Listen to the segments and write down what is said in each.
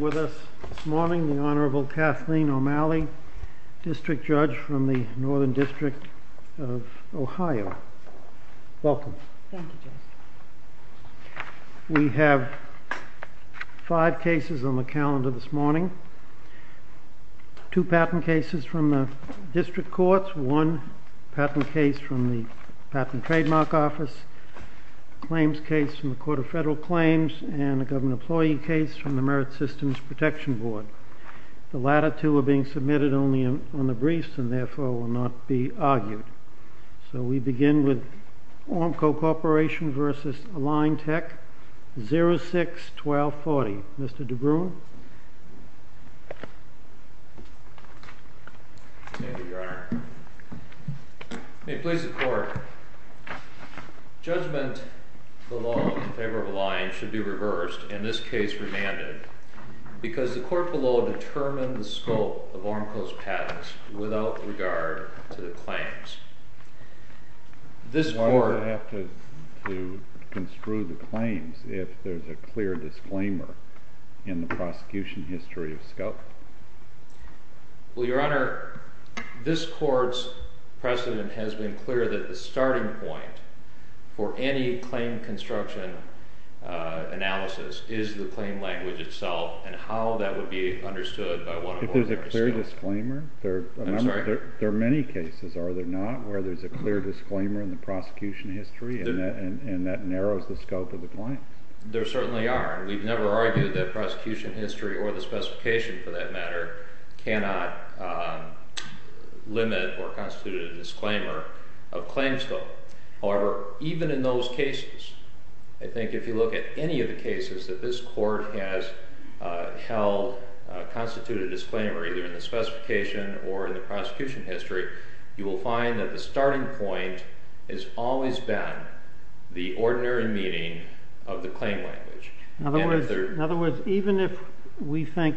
With us this morning, the Honorable Kathleen O'Malley, District Judge from the Northern District of Ohio. Welcome. Thank you, Judge. We have five cases on the calendar this morning. Two patent cases from the District Courts, one patent case from the Patent Trademark Office, a claims case from the Court of Federal Claims, and a government employee case from the Merit Systems Protection Board. The latter two are being submitted only on the briefs and therefore will not be argued. So we begin with Ormco Corporation v. Align Tech, 06-1240. Mr. DeBruin. Thank you, Your Honor. May it please the Court. Judgment below in favor of Align should be reversed, in this case remanded, because the Court below determined the scope of Ormco's patents without regard to the claims. This Court... Why would it have to construe the claims if there's a clear disclaimer in the prosecution history of scope? Well, Your Honor, this Court's precedent has been clear that the starting point for any claim construction analysis is the claim language itself and how that would be understood by one of Ormco's... If there's a clear disclaimer? I'm sorry? There are many cases, are there not, where there's a clear disclaimer in the prosecution history and that narrows the scope of the claim? There certainly are. We've never argued that prosecution history or the specification, for that matter, cannot limit or constitute a disclaimer of claims scope. In other words, even if we think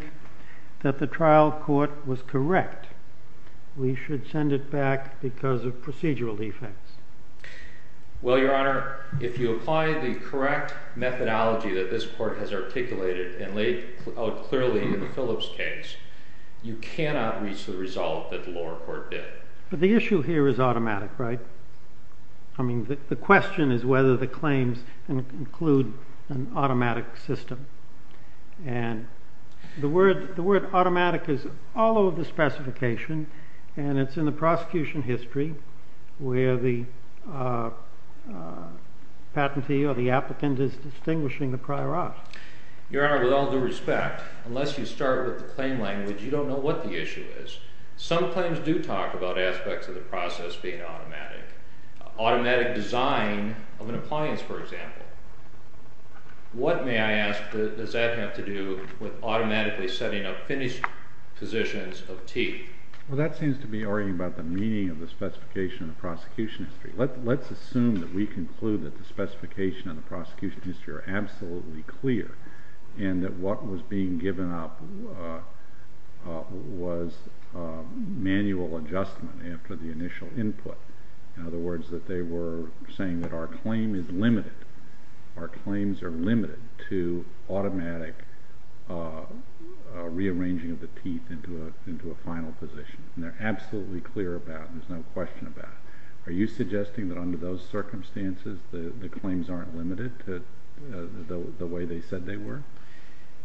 that the trial court was correct, we should send it back because of procedural defects? Well, Your Honor, if you apply the correct methodology that this Court has articulated and laid out clearly in the Phillips case, you cannot reach the result that the lower court did. But the issue here is automatic, right? I mean, the question is whether the claims include an automatic system. And the word automatic is all over the specification, and it's in the prosecution history where the patentee or the applicant is distinguishing the prior art. Your Honor, with all due respect, unless you start with the claim language, you don't know what the issue is. Some claims do talk about aspects of the process being automatic. Automatic design of an appliance, for example. What, may I ask, does that have to do with automatically setting up finished positions of teeth? Well, that seems to be arguing about the meaning of the specification in the prosecution history. Let's assume that we conclude that the specification in the prosecution history are absolutely clear and that what was being given up was manual adjustment after the initial input. In other words, that they were saying that our claim is limited, our claims are limited to automatic rearranging of the teeth into a final position. And they're absolutely clear about it, there's no question about it. Are you suggesting that under those circumstances the claims aren't limited to the way they said they were?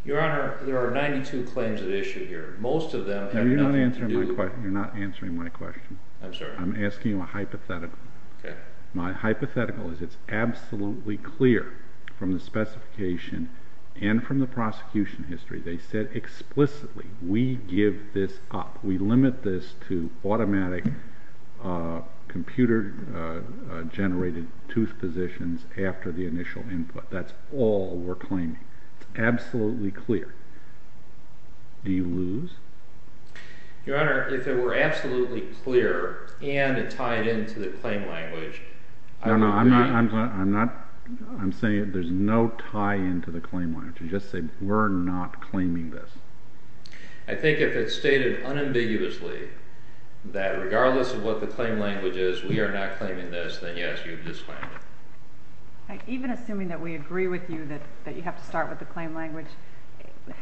Your Honor, there are 92 claims at issue here. Most of them have nothing to do... No, you're not answering my question. I'm sorry? I'm giving you a hypothetical. Okay. My hypothetical is it's absolutely clear from the specification and from the prosecution history, they said explicitly, we give this up. We limit this to automatic computer-generated tooth positions after the initial input. That's all we're claiming. It's absolutely clear. Do you lose? Your Honor, if it were absolutely clear and it tied into the claim language... No, no, I'm saying there's no tie into the claim language. Just say we're not claiming this. I think if it's stated unambiguously that regardless of what the claim language is, we are not claiming this, then yes, you've just claimed it. Even assuming that we agree with you that you have to start with the claim language,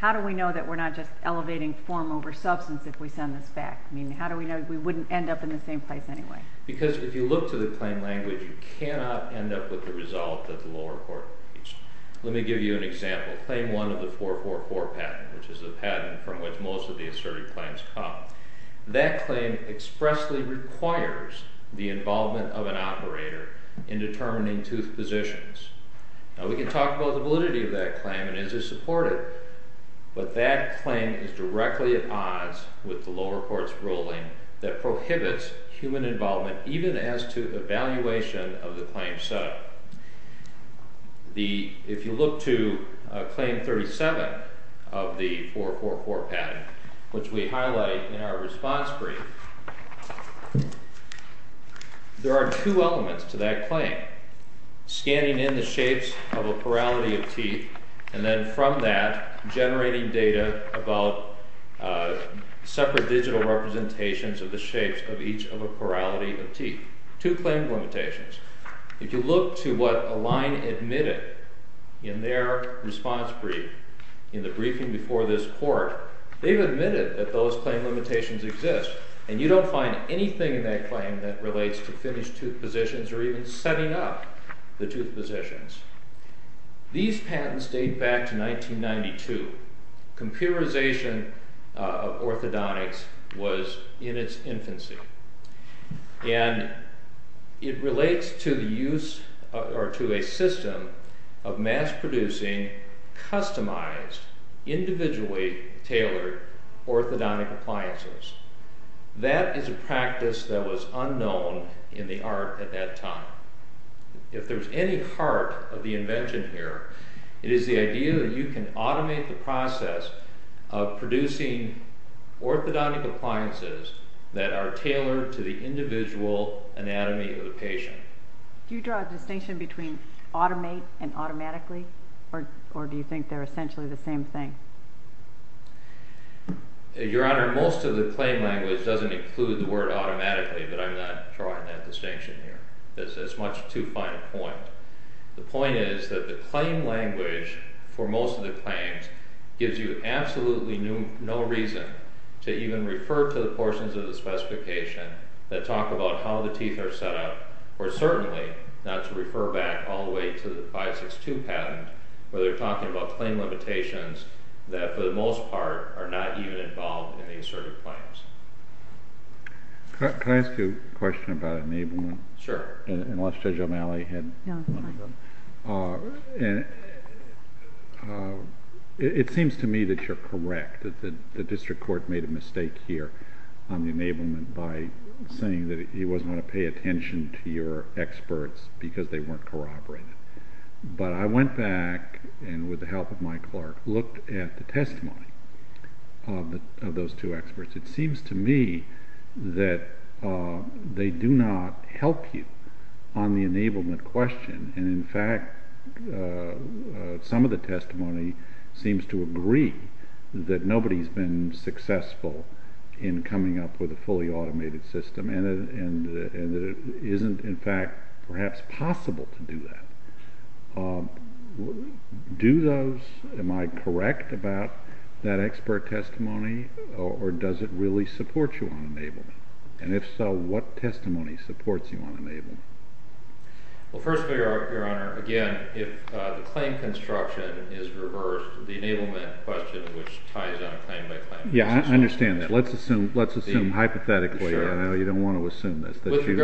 how do we know that we're not just elevating form over substance if we send this back? I mean, how do we know we wouldn't end up in the same place anyway? Because if you look to the claim language, you cannot end up with the result that the lower court reached. Let me give you an example. Claim 1 of the 444 patent, which is the patent from which most of the asserted claims come. That claim expressly requires the involvement of an operator in determining tooth positions. Now, we can talk about the validity of that claim and is it supported, but that claim is directly at odds with the lower court's ruling that prohibits human involvement even as to evaluation of the claim set up. If you look to Claim 37 of the 444 patent, which we highlight in our response brief, there are two elements to that claim. Scanning in the shapes of a plurality of teeth and then from that, generating data about separate digital representations of the shapes of each of a plurality of teeth. Two claim limitations. If you look to what Align admitted in their response brief, in the briefing before this court, they've admitted that those claim limitations exist. And you don't find anything in that claim that relates to finished tooth positions or even setting up the tooth positions. These patents date back to 1992. Computerization of orthodontics was in its infancy. And it relates to a system of mass producing, customized, individually tailored orthodontic appliances. That is a practice that was unknown in the art at that time. If there's any heart of the invention here, it is the idea that you can automate the process of producing orthodontic appliances that are tailored to the individual anatomy of the patient. Do you draw a distinction between automate and automatically, or do you think they're essentially the same thing? Your Honor, most of the claim language doesn't include the word automatically, but I'm not drawing that distinction here. It's much too fine a point. The point is that the claim language for most of the claims gives you absolutely no reason to even refer to the portions of the specification that talk about how the teeth are set up, or certainly not to refer back all the way to the 562 patent where they're talking about claim limitations that for the most part are not even involved in the asserted claims. Can I ask you a question about enablement? Sure. Unless Judge O'Malley had one of them. No, that's fine. It seems to me that you're correct, that the district court made a mistake here on the enablement by saying that he wasn't going to pay attention to your experts because they weren't corroborated. But I went back and, with the help of my clerk, looked at the testimony of those two experts. It seems to me that they do not help you on the enablement question. In fact, some of the testimony seems to agree that nobody's been successful in coming up with a fully automated system and that it isn't, in fact, perhaps possible to do that. Do those—am I correct about that expert testimony, or does it really support you on enablement? And if so, what testimony supports you on enablement? Well, first of all, Your Honor, again, if the claim construction is reversed, the enablement question, which ties on claim by claim— Yeah, I understand that. Let's assume hypothetically—I know you don't want to assume this—that you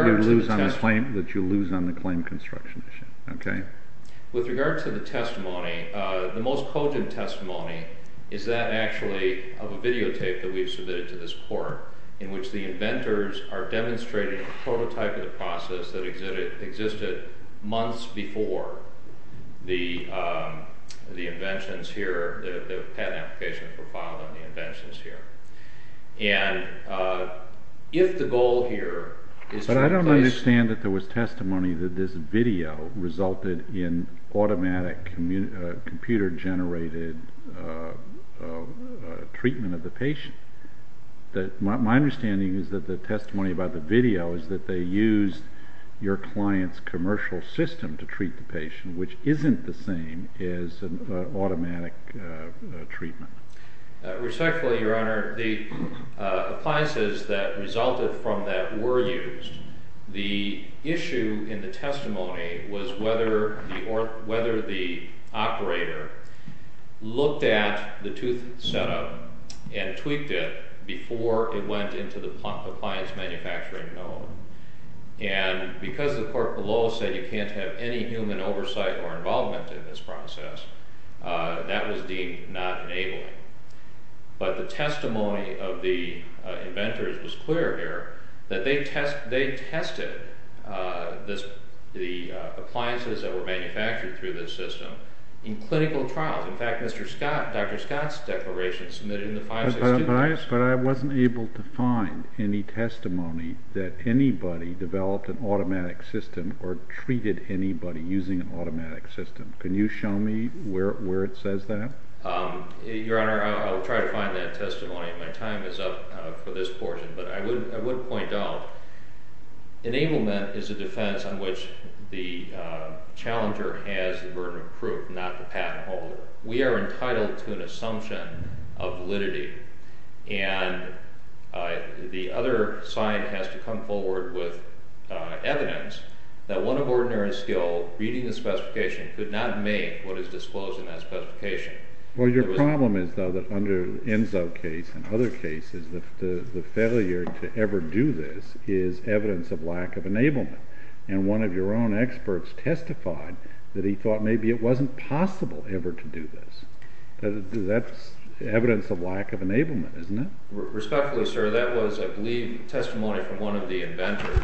lose on the claim construction issue. With regard to the testimony, the most cogent testimony is that, actually, of a videotape that we've submitted to this court in which the inventors are demonstrating a prototype of the process that existed months before the inventions here, the patent applications were filed on the inventions here. And if the goal here is to replace— My understanding is that the testimony about the video is that they used your client's commercial system to treat the patient, which isn't the same as an automatic treatment. Respectfully, Your Honor, the appliances that resulted from that were used. The issue in the testimony was whether the operator looked at the tooth setup and tweaked it before it went into the pump appliance manufacturing mill. And because the court below said you can't have any human oversight or involvement in this process, that was deemed not enabling. But the testimony of the inventors was clear here that they tested the appliances that were manufactured through this system in clinical trials. But I wasn't able to find any testimony that anybody developed an automatic system or treated anybody using an automatic system. Can you show me where it says that? Your Honor, I'll try to find that testimony. My time is up for this portion. But I would point out, enablement is a defense on which the challenger has the burden of proof, not the patent holder. We are entitled to an assumption of validity. And the other side has to come forward with evidence that one of ordinary skill, reading the specification, could not make what is disclosed in that specification. Well, your problem is, though, that under Enzo's case and other cases, the failure to ever do this is evidence of lack of enablement. And one of your own experts testified that he thought maybe it wasn't possible ever to do this. That's evidence of lack of enablement, isn't it? Respectfully, sir, that was, I believe, testimony from one of the inventors.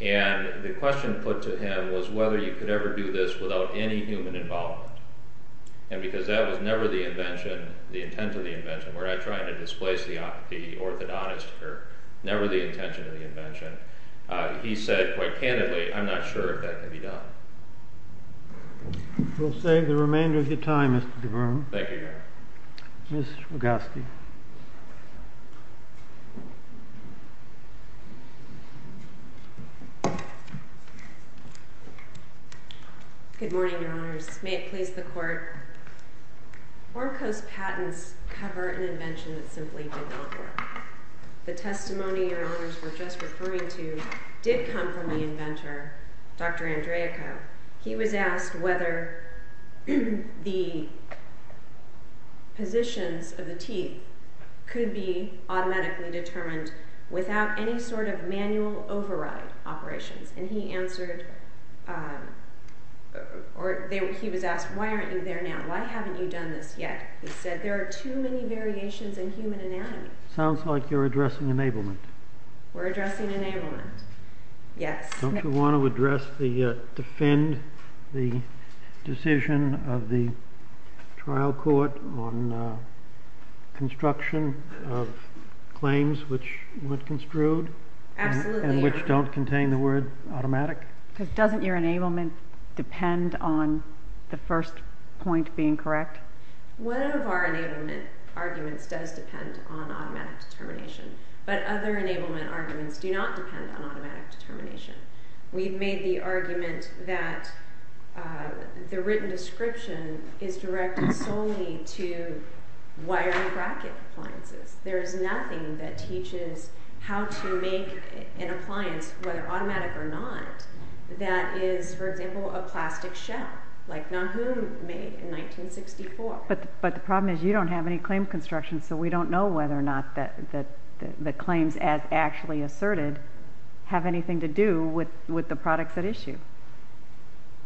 And the question put to him was whether you could ever do this without any human involvement. And because that was never the invention, the intent of the invention, where I'm trying to displace the orthodontist, or never the intention of the invention, he said, quite candidly, I'm not sure if that could be done. We'll save the remainder of your time, Mr. DeVern. Thank you, Your Honor. Ms. Swagoski. Good morning, Your Honors. May it please the Court. Warco's patents cover an invention that simply did not work. The testimony Your Honors were just referring to did come from the inventor, Dr. Andreaco. He was asked whether the positions of the teeth could be automatically determined without any sort of manual override operations. And he answered, or he was asked, why aren't you there now? Why haven't you done this yet? He said, there are too many variations in human anatomy. Sounds like you're addressing enablement. We're addressing enablement, yes. Don't you want to address the, defend the decision of the trial court on construction of claims which weren't construed? Absolutely. And which don't contain the word automatic? Doesn't your enablement depend on the first point being correct? One of our enablement arguments does depend on automatic determination. But other enablement arguments do not depend on automatic determination. We've made the argument that the written description is directed solely to wiring bracket appliances. There is nothing that teaches how to make an appliance, whether automatic or not, that is, for example, a plastic shell. Like Nonhum made in 1964. But the problem is you don't have any claim construction, so we don't know whether or not the claims as actually asserted have anything to do with the products at issue.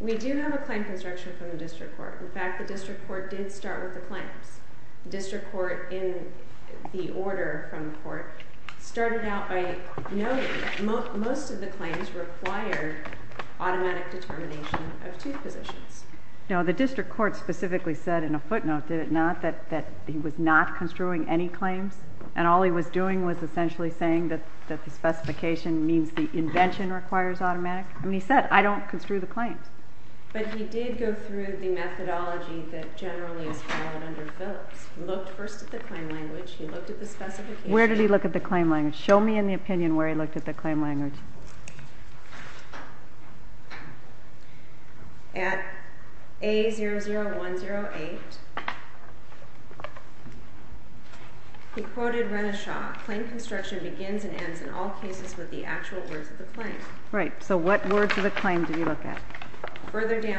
We do have a claim construction from the district court. In fact, the district court did start with the claims. The district court, in the order from the court, started out by noting most of the claims required automatic determination of two positions. No, the district court specifically said in a footnote, did it not, that he was not construing any claims? And all he was doing was essentially saying that the specification means the invention requires automatic? I mean, he said, I don't construe the claims. But he did go through the methodology that generally is followed under Phillips. He looked first at the claim language. He looked at the specification. Where did he look at the claim language? Show me in the opinion where he looked at the claim language. At A00108, he quoted Renishaw. Claim construction begins and ends in all cases with the actual words of the claim. Right, so what words of the claim did he look at? But he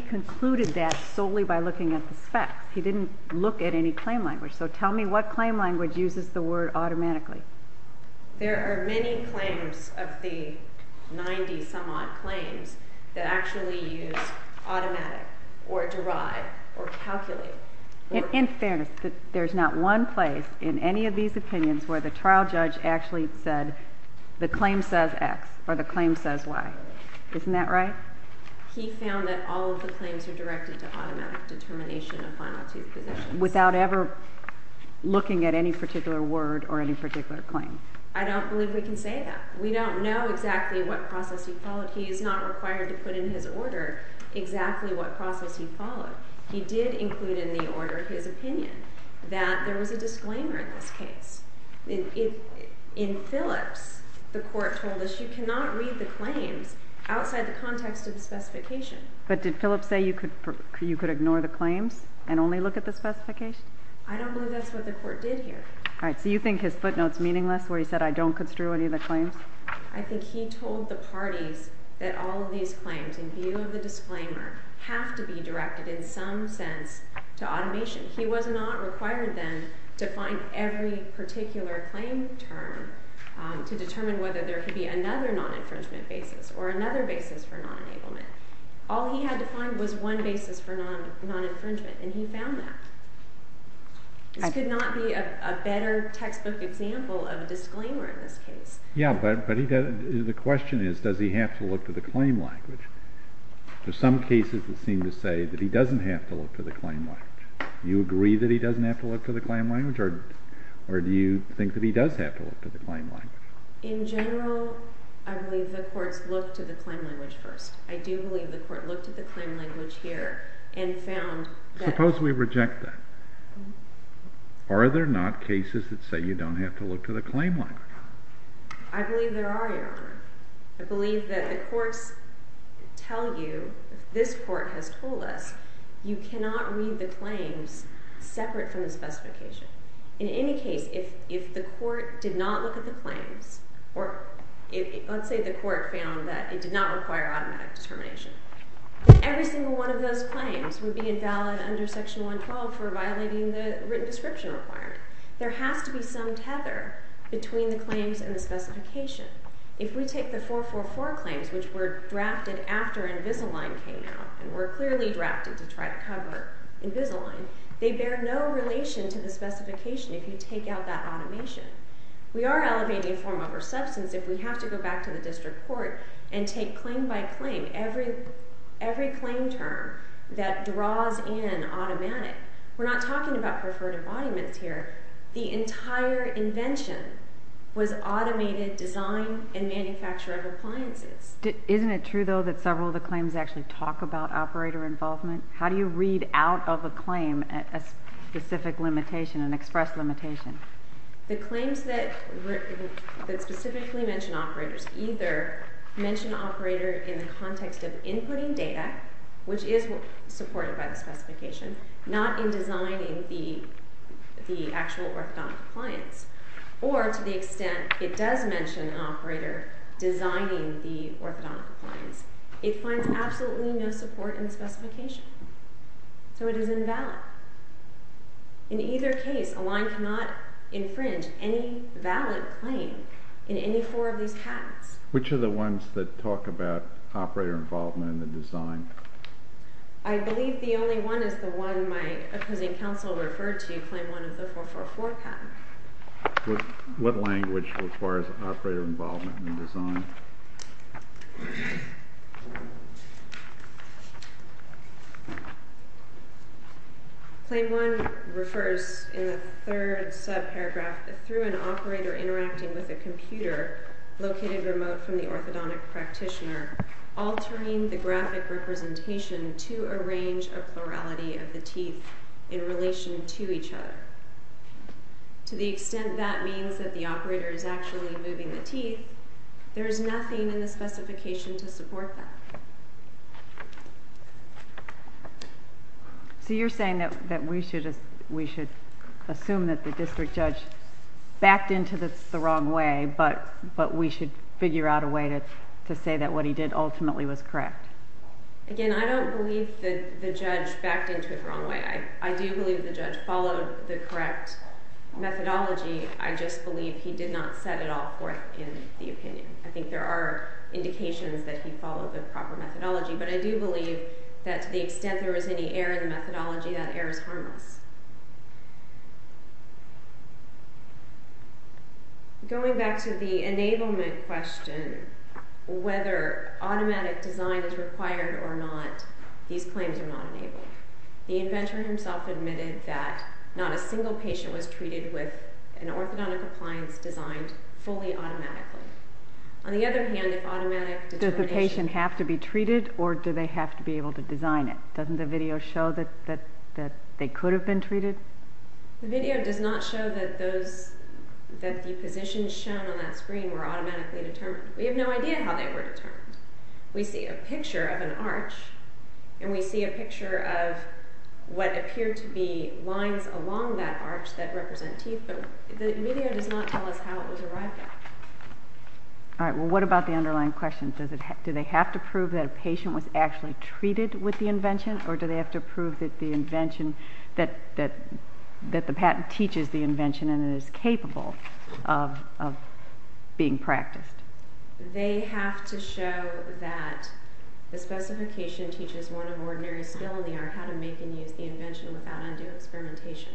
concluded that solely by looking at the spec. He didn't look at any claim language. So tell me what claim language uses the word automatically. That actually used automatic or derive or calculate. In fairness, there's not one place in any of these opinions where the trial judge actually said the claim says X or the claim says Y. Isn't that right? Without ever looking at any particular word or any particular claim. I don't believe we can say that. We don't know exactly what process he followed. He's not required to put in his order exactly what process he followed. He did include in the order his opinion that there was a disclaimer in this case. In Phillips, the court told us you cannot read the claims outside the context of the specification. But did Phillips say you could ignore the claims and only look at the specification? I don't believe that's what the court did here. All right, so you think his footnote's meaningless where he said I don't construe any of the claims? I think he told the parties that all of these claims, in view of the disclaimer, have to be directed in some sense to automation. He was not required then to find every particular claim term to determine whether there could be another non-infringement basis or another basis for non-enablement. All he had to find was one basis for non-infringement, and he found that. This could not be a better textbook example of a disclaimer in this case. Yeah, but the question is, does he have to look to the claim language? There are some cases that seem to say that he doesn't have to look to the claim language. Do you agree that he doesn't have to look to the claim language, or do you think that he does have to look to the claim language? In general, I believe the courts looked to the claim language first. I do believe the court looked at the claim language here and found that. Suppose we reject that. Are there not cases that say you don't have to look to the claim language? I believe there are, Your Honor. I believe that the courts tell you, this court has told us, you cannot read the claims separate from the specification. In any case, if the court did not look at the claims, or let's say the court found that it did not require automatic determination, every single one of those claims would be invalid under Section 112 for violating the written description requirement. There has to be some tether between the claims and the specification. If we take the 444 claims, which were drafted after Invisalign came out, and were clearly drafted to try to cover Invisalign, they bear no relation to the specification if you take out that automation. We are elevating form over substance if we have to go back to the district court and take claim by claim, every claim term that draws in automatic. We're not talking about preferred embodiments here. The entire invention was automated design and manufacture of appliances. Isn't it true, though, that several of the claims actually talk about operator involvement? How do you read out of a claim a specific limitation, an express limitation? The claims that specifically mention operators either mention operator in the context of inputting data, which is supported by the specification, not in designing the actual orthodontic appliance, or to the extent it does mention an operator designing the orthodontic appliance, it finds absolutely no support in the specification. So it is invalid. In either case, Align cannot infringe any valid claim in any four of these patents. Which are the ones that talk about operator involvement in the design? I believe the only one is the one my opposing counsel referred to, claim one of the 444 patents. What language requires operator involvement in the design? Claim one refers in the third subparagraph that through an operator interacting with a computer located remote from the orthodontic practitioner, altering the graphic representation to arrange a plurality of the teeth in relation to each other. To the extent that means that the operator is actually moving the teeth, there is nothing in the specification to support that. So you're saying that we should assume that the district judge backed into this the wrong way, but we should figure out a way to say that what he did ultimately was correct? Again, I don't believe that the judge backed into it the wrong way. I do believe the judge followed the correct methodology. I just believe he did not set it all forth in the opinion. I think there are indications that he followed the proper methodology, but I do believe that to the extent there was any error in the methodology, that error is harmless. Going back to the enablement question, whether automatic design is required or not, these claims are not enabled. The inventor himself admitted that not a single patient was treated with an orthodontic appliance that was designed fully automatically. On the other hand, if automatic determination... Does the patient have to be treated, or do they have to be able to design it? Doesn't the video show that they could have been treated? The video does not show that the positions shown on that screen were automatically determined. We have no idea how they were determined. We see a picture of an arch, and we see a picture of what appear to be lines along that arch that represent teeth, but the video does not tell us how it was arrived at. All right, well, what about the underlying question? Do they have to prove that a patient was actually treated with the invention, or do they have to prove that the patent teaches the invention and it is capable of being practiced? They have to show that the specification teaches one of ordinary skill in the art how to make and use the invention without undue experimentation.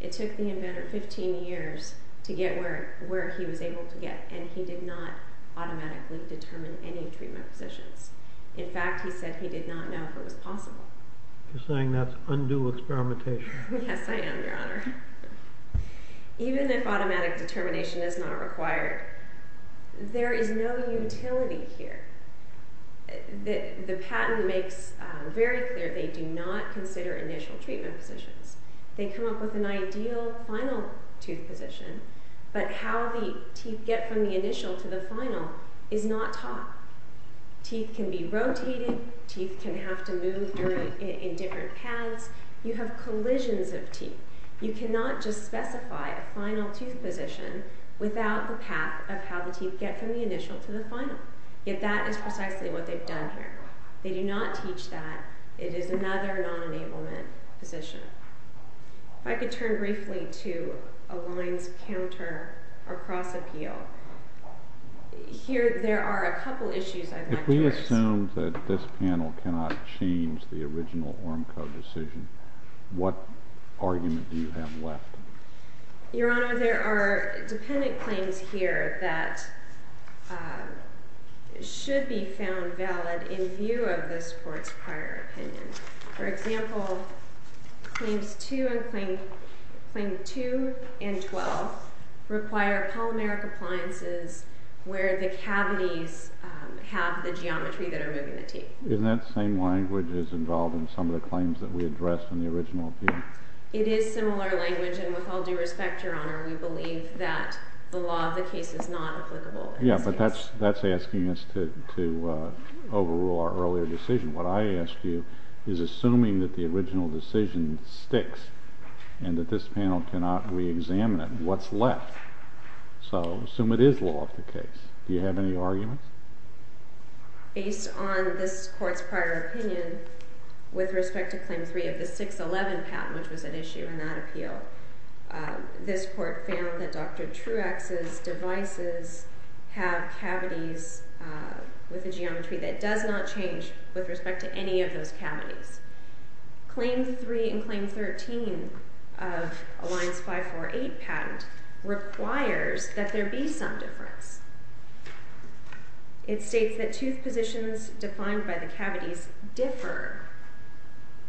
It took the inventor 15 years to get where he was able to get, and he did not automatically determine any treatment positions. In fact, he said he did not know if it was possible. You're saying that's undue experimentation? Yes, I am, Your Honor. Even if automatic determination is not required, there is no utility here. The patent makes very clear they do not consider initial treatment positions. They come up with an ideal final tooth position, but how the teeth get from the initial to the final is not taught. Teeth can be rotated. Teeth can have to move in different paths. You have collisions of teeth. You cannot just specify a final tooth position without the path of how the teeth get from the initial to the final. Yet that is precisely what they've done here. They do not teach that. It is another non-enablement position. If I could turn briefly to a lines counter or cross appeal. Here there are a couple issues I'd like to address. If we assume that this panel cannot change the original Oramco decision, what argument do you have left? Your Honor, there are dependent claims here that should be found valid in view of this Court's prior opinion. For example, Claims 2 and 12 require polymeric appliances where the cavities have the geometry that are moving the teeth. Isn't that the same language that's involved in some of the claims that we addressed in the original appeal? It is similar language, and with all due respect, Your Honor, we believe that the law of the case is not applicable. Yeah, but that's asking us to overrule our earlier decision. What I ask you is, assuming that the original decision sticks and that this panel cannot re-examine it, what's left? So assume it is law of the case. Do you have any arguments? Based on this Court's prior opinion with respect to Claim 3 of the 611 patent, which was at issue in that appeal, this Court found that Dr. Truax's devices have cavities with a geometry that does not change with respect to any of those cavities. Claim 3 and Claim 13 of Alliance 548 patent requires that there be some difference. It states that tooth positions defined by the cavities differ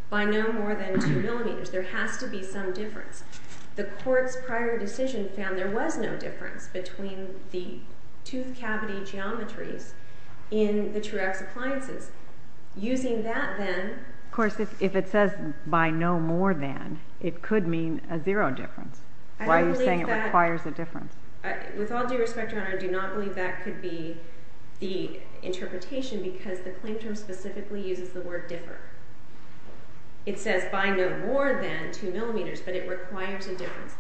by no more than 2 millimeters. There has to be some difference. The Court's prior decision found there was no difference between the tooth cavity geometries in the Truax appliances. Using that, then... Of course, if it says by no more than, it could mean a zero difference. Why are you saying it requires a difference? With all due respect, Your Honor, I do not believe that could be the interpretation because the claim term specifically uses the word differ. It says by no more than 2 millimeters, but it requires a difference.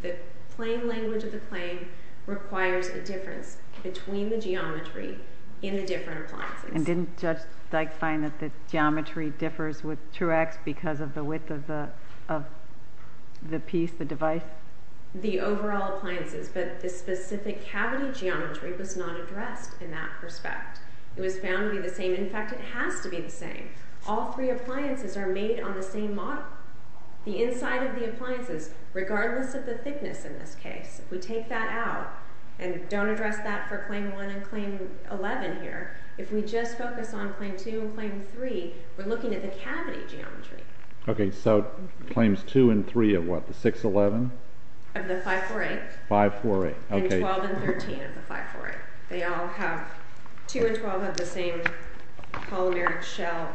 The plain language of the claim requires a difference between the geometry in the different appliances. And didn't Judge Dyke find that the geometry differs with Truax because of the width of the piece, the device? The overall appliances, but the specific cavity geometry was not addressed in that respect. It was found to be the same. In fact, it has to be the same. All three appliances are made on the same model. The inside of the appliances, regardless of the thickness in this case, if we take that out and don't address that for Claim 1 and Claim 11 here, if we just focus on Claim 2 and Claim 3, we're looking at the cavity geometry. Okay, so Claims 2 and 3 of what, the 611? Of the 548. 548, okay. And 12 and 13 of the 548. They all have, 2 and 12 have the same polymeric shell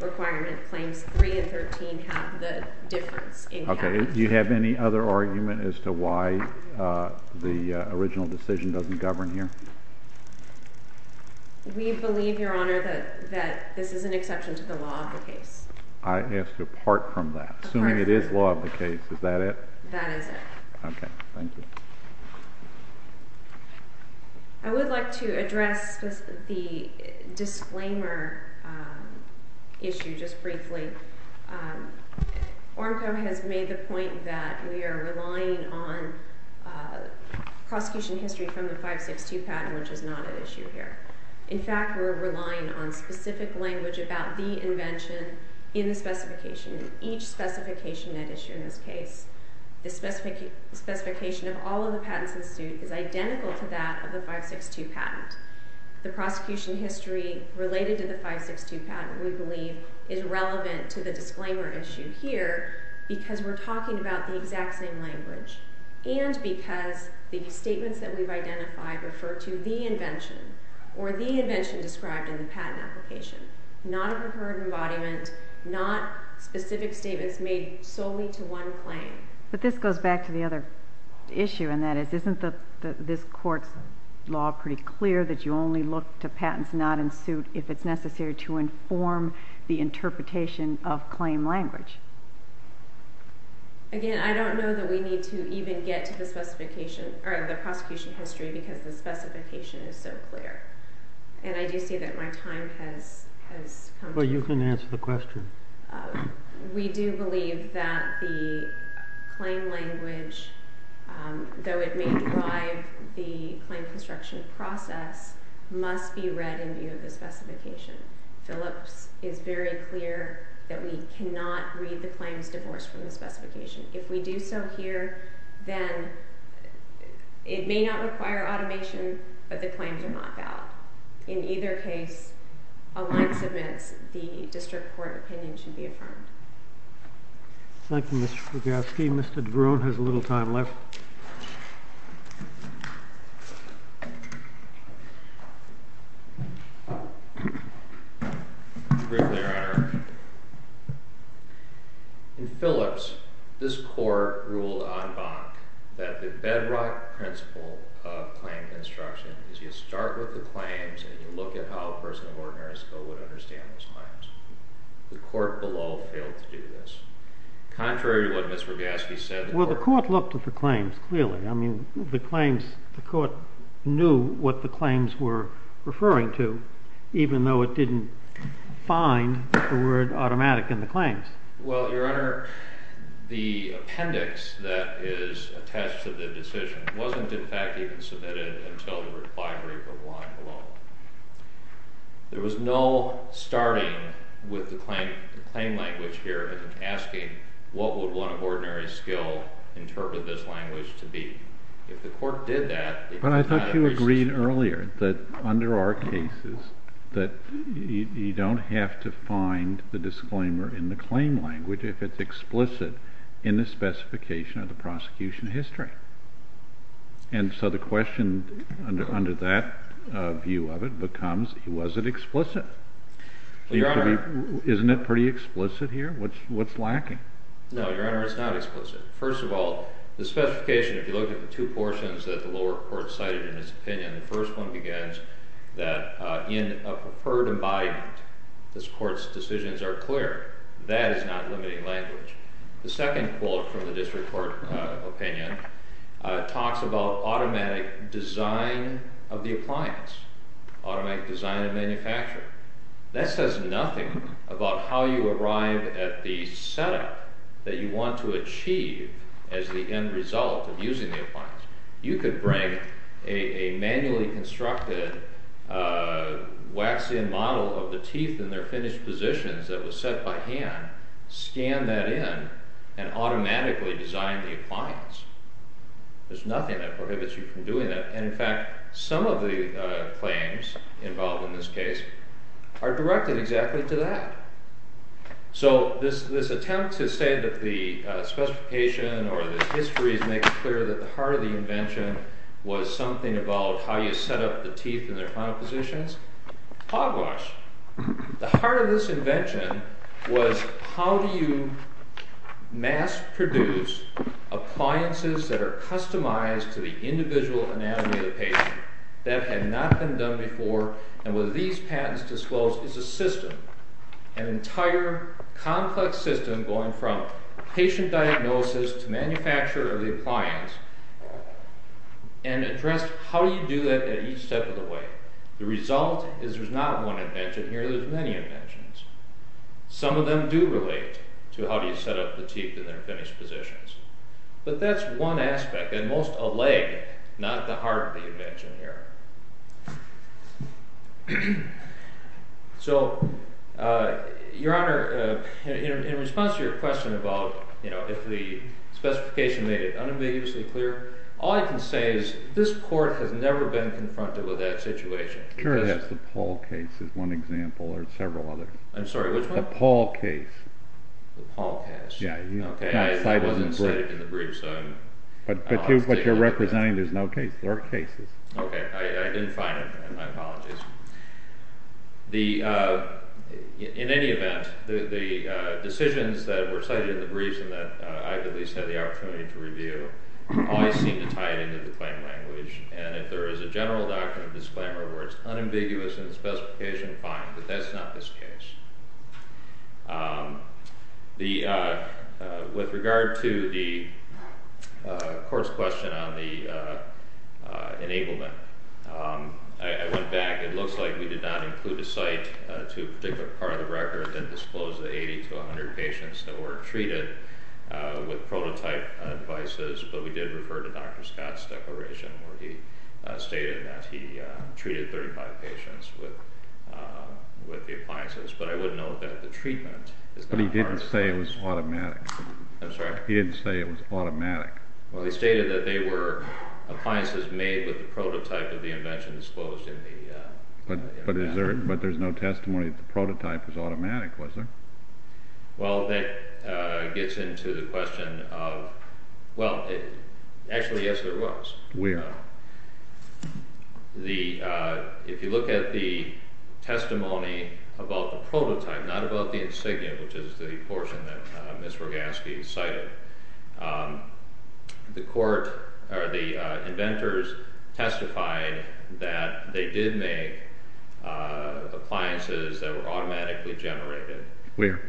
requirement. Claims 3 and 13 have the difference in cavity geometry. Okay, do you have any other argument as to why the original decision doesn't govern here? We believe, Your Honor, that this is an exception to the law of the case. I have to part from that, assuming it is law of the case. Is that it? That is it. Okay, thank you. I would like to address the disclaimer issue just briefly. Oremco has made the point that we are relying on prosecution history from the 562 patent, which is not an issue here. In fact, we're relying on specific language about the invention in the specification, in each specification at issue in this case. The specification of all of the patents in suit is identical to that of the 562 patent. The prosecution history related to the 562 patent, we believe, is relevant to the disclaimer issue here because we're talking about the exact same language and because the statements that we've identified refer to the invention or the invention described in the patent application, not a preferred embodiment, not specific statements made solely to one claim. But this goes back to the other issue, and that is, isn't this court's law pretty clear that you only look to patents not in suit if it's necessary to inform the interpretation of claim language? Again, I don't know that we need to even get to the prosecution history because the specification is so clear. And I do see that my time has come to an end. Well, you can answer the question. We do believe that the claim language, though it may drive the claim construction process, must be read in view of the specification. Phillips is very clear that we cannot read the claims divorced from the specification. If we do so here, then it may not require automation, but the claims are not valid. In either case, a line submits, the district court opinion should be affirmed. Thank you, Ms. Swigalski. Mr. DeBruin has a little time left. Thank you, Your Honor. In Phillips, this court ruled en banc that the bedrock principle of claim construction is you start with the claims and you look at how a person of ordinary skill would understand those claims. The court below failed to do this. Contrary to what Ms. Swigalski said, the court- Well, the court looked at the claims clearly. I mean, the claims, the court knew what the claims were referring to even though it didn't find the word automatic in the claims. Well, Your Honor, the appendix that is attached to the decision wasn't in fact even submitted until the reply brief of the line below. There was no starting with the claim language here asking what would one of ordinary skill interpret this language to be. If the court did that- But I thought you agreed earlier that under our cases that you don't have to find the disclaimer in the claim language if it's explicit in the specification of the prosecution history. And so the question under that view of it becomes, was it explicit? Isn't it pretty explicit here? What's lacking? No, Your Honor, it's not explicit. First of all, the specification, if you look at the two portions that the lower court cited in its opinion, the first one begins that in a preferred embodiment this court's decisions are clear. That is not limiting language. The second quote from the district court opinion talks about automatic design of the appliance, automatic design and manufacture. That says nothing about how you arrive at the setup that you want to achieve as the end result of using the appliance. You could bring a manually constructed wax-in model of the teeth in their finished positions that was set by hand, scan that in, and automatically design the appliance. There's nothing that prohibits you from doing that. And in fact, some of the claims involved in this case are directed exactly to that. So this attempt to say that the specification or the history is making clear that the heart of the invention was something about how you set up the teeth in their final positions. Hogwash. The heart of this invention was how do you mass-produce appliances that are customized to the individual anatomy of the patient. That had not been done before, and what these patents disclose is a system, an entire complex system going from patient diagnosis to manufacture of the appliance and address how do you do that at each step of the way. The result is there's not one invention here. There's many inventions. Some of them do relate to how do you set up the teeth in their finished positions. But that's one aspect, and most a leg, not the heart of the invention here. So, Your Honor, in response to your question about if the specification made it unambiguously clear, all I can say is this court has never been confronted with that situation. Sure, that's the Paul case is one example. There are several others. I'm sorry, which one? The Paul case. The Paul case. Yeah. Okay. It wasn't cited in the brief, so I'm... But you're representing there's no case. There are cases. Okay. I didn't find it. My apologies. In any event, the decisions that were cited in the brief and that I at least had the opportunity to review always seem to tie it into the claim language. And if there is a general doctrine of disclaimer where it's unambiguous in the specification, fine. But that's not this case. With regard to the court's question on the enablement, I went back. It looks like we did not include a site to a particular part of the record that disclosed the 80 to 100 patients that were treated with prototype devices, but we did refer to Dr. Scott's declaration where he stated that he treated 35 patients with the appliances. But I would note that the treatment is not part of this. But he didn't say it was automatic. I'm sorry? He didn't say it was automatic. Well, he stated that they were appliances made with the prototype of the invention disclosed in the document. But there's no testimony that the prototype was automatic, was there? Well, that gets into the question of, well, actually, yes, there was. Where? If you look at the testimony about the prototype, not about the insignia, which is the portion that Ms. Rogasky cited, the inventors testified that they did make appliances that were automatically generated. Where?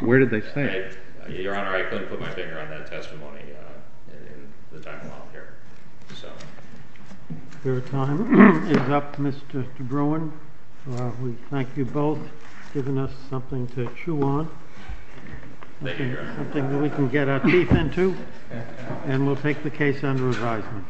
Where did they say? Your Honor, I couldn't put my finger on that testimony in the time I'm out here. Your time is up, Mr. DeBruin. We thank you both for giving us something to chew on, something that we can get our teeth into, and we'll take the case under advisement.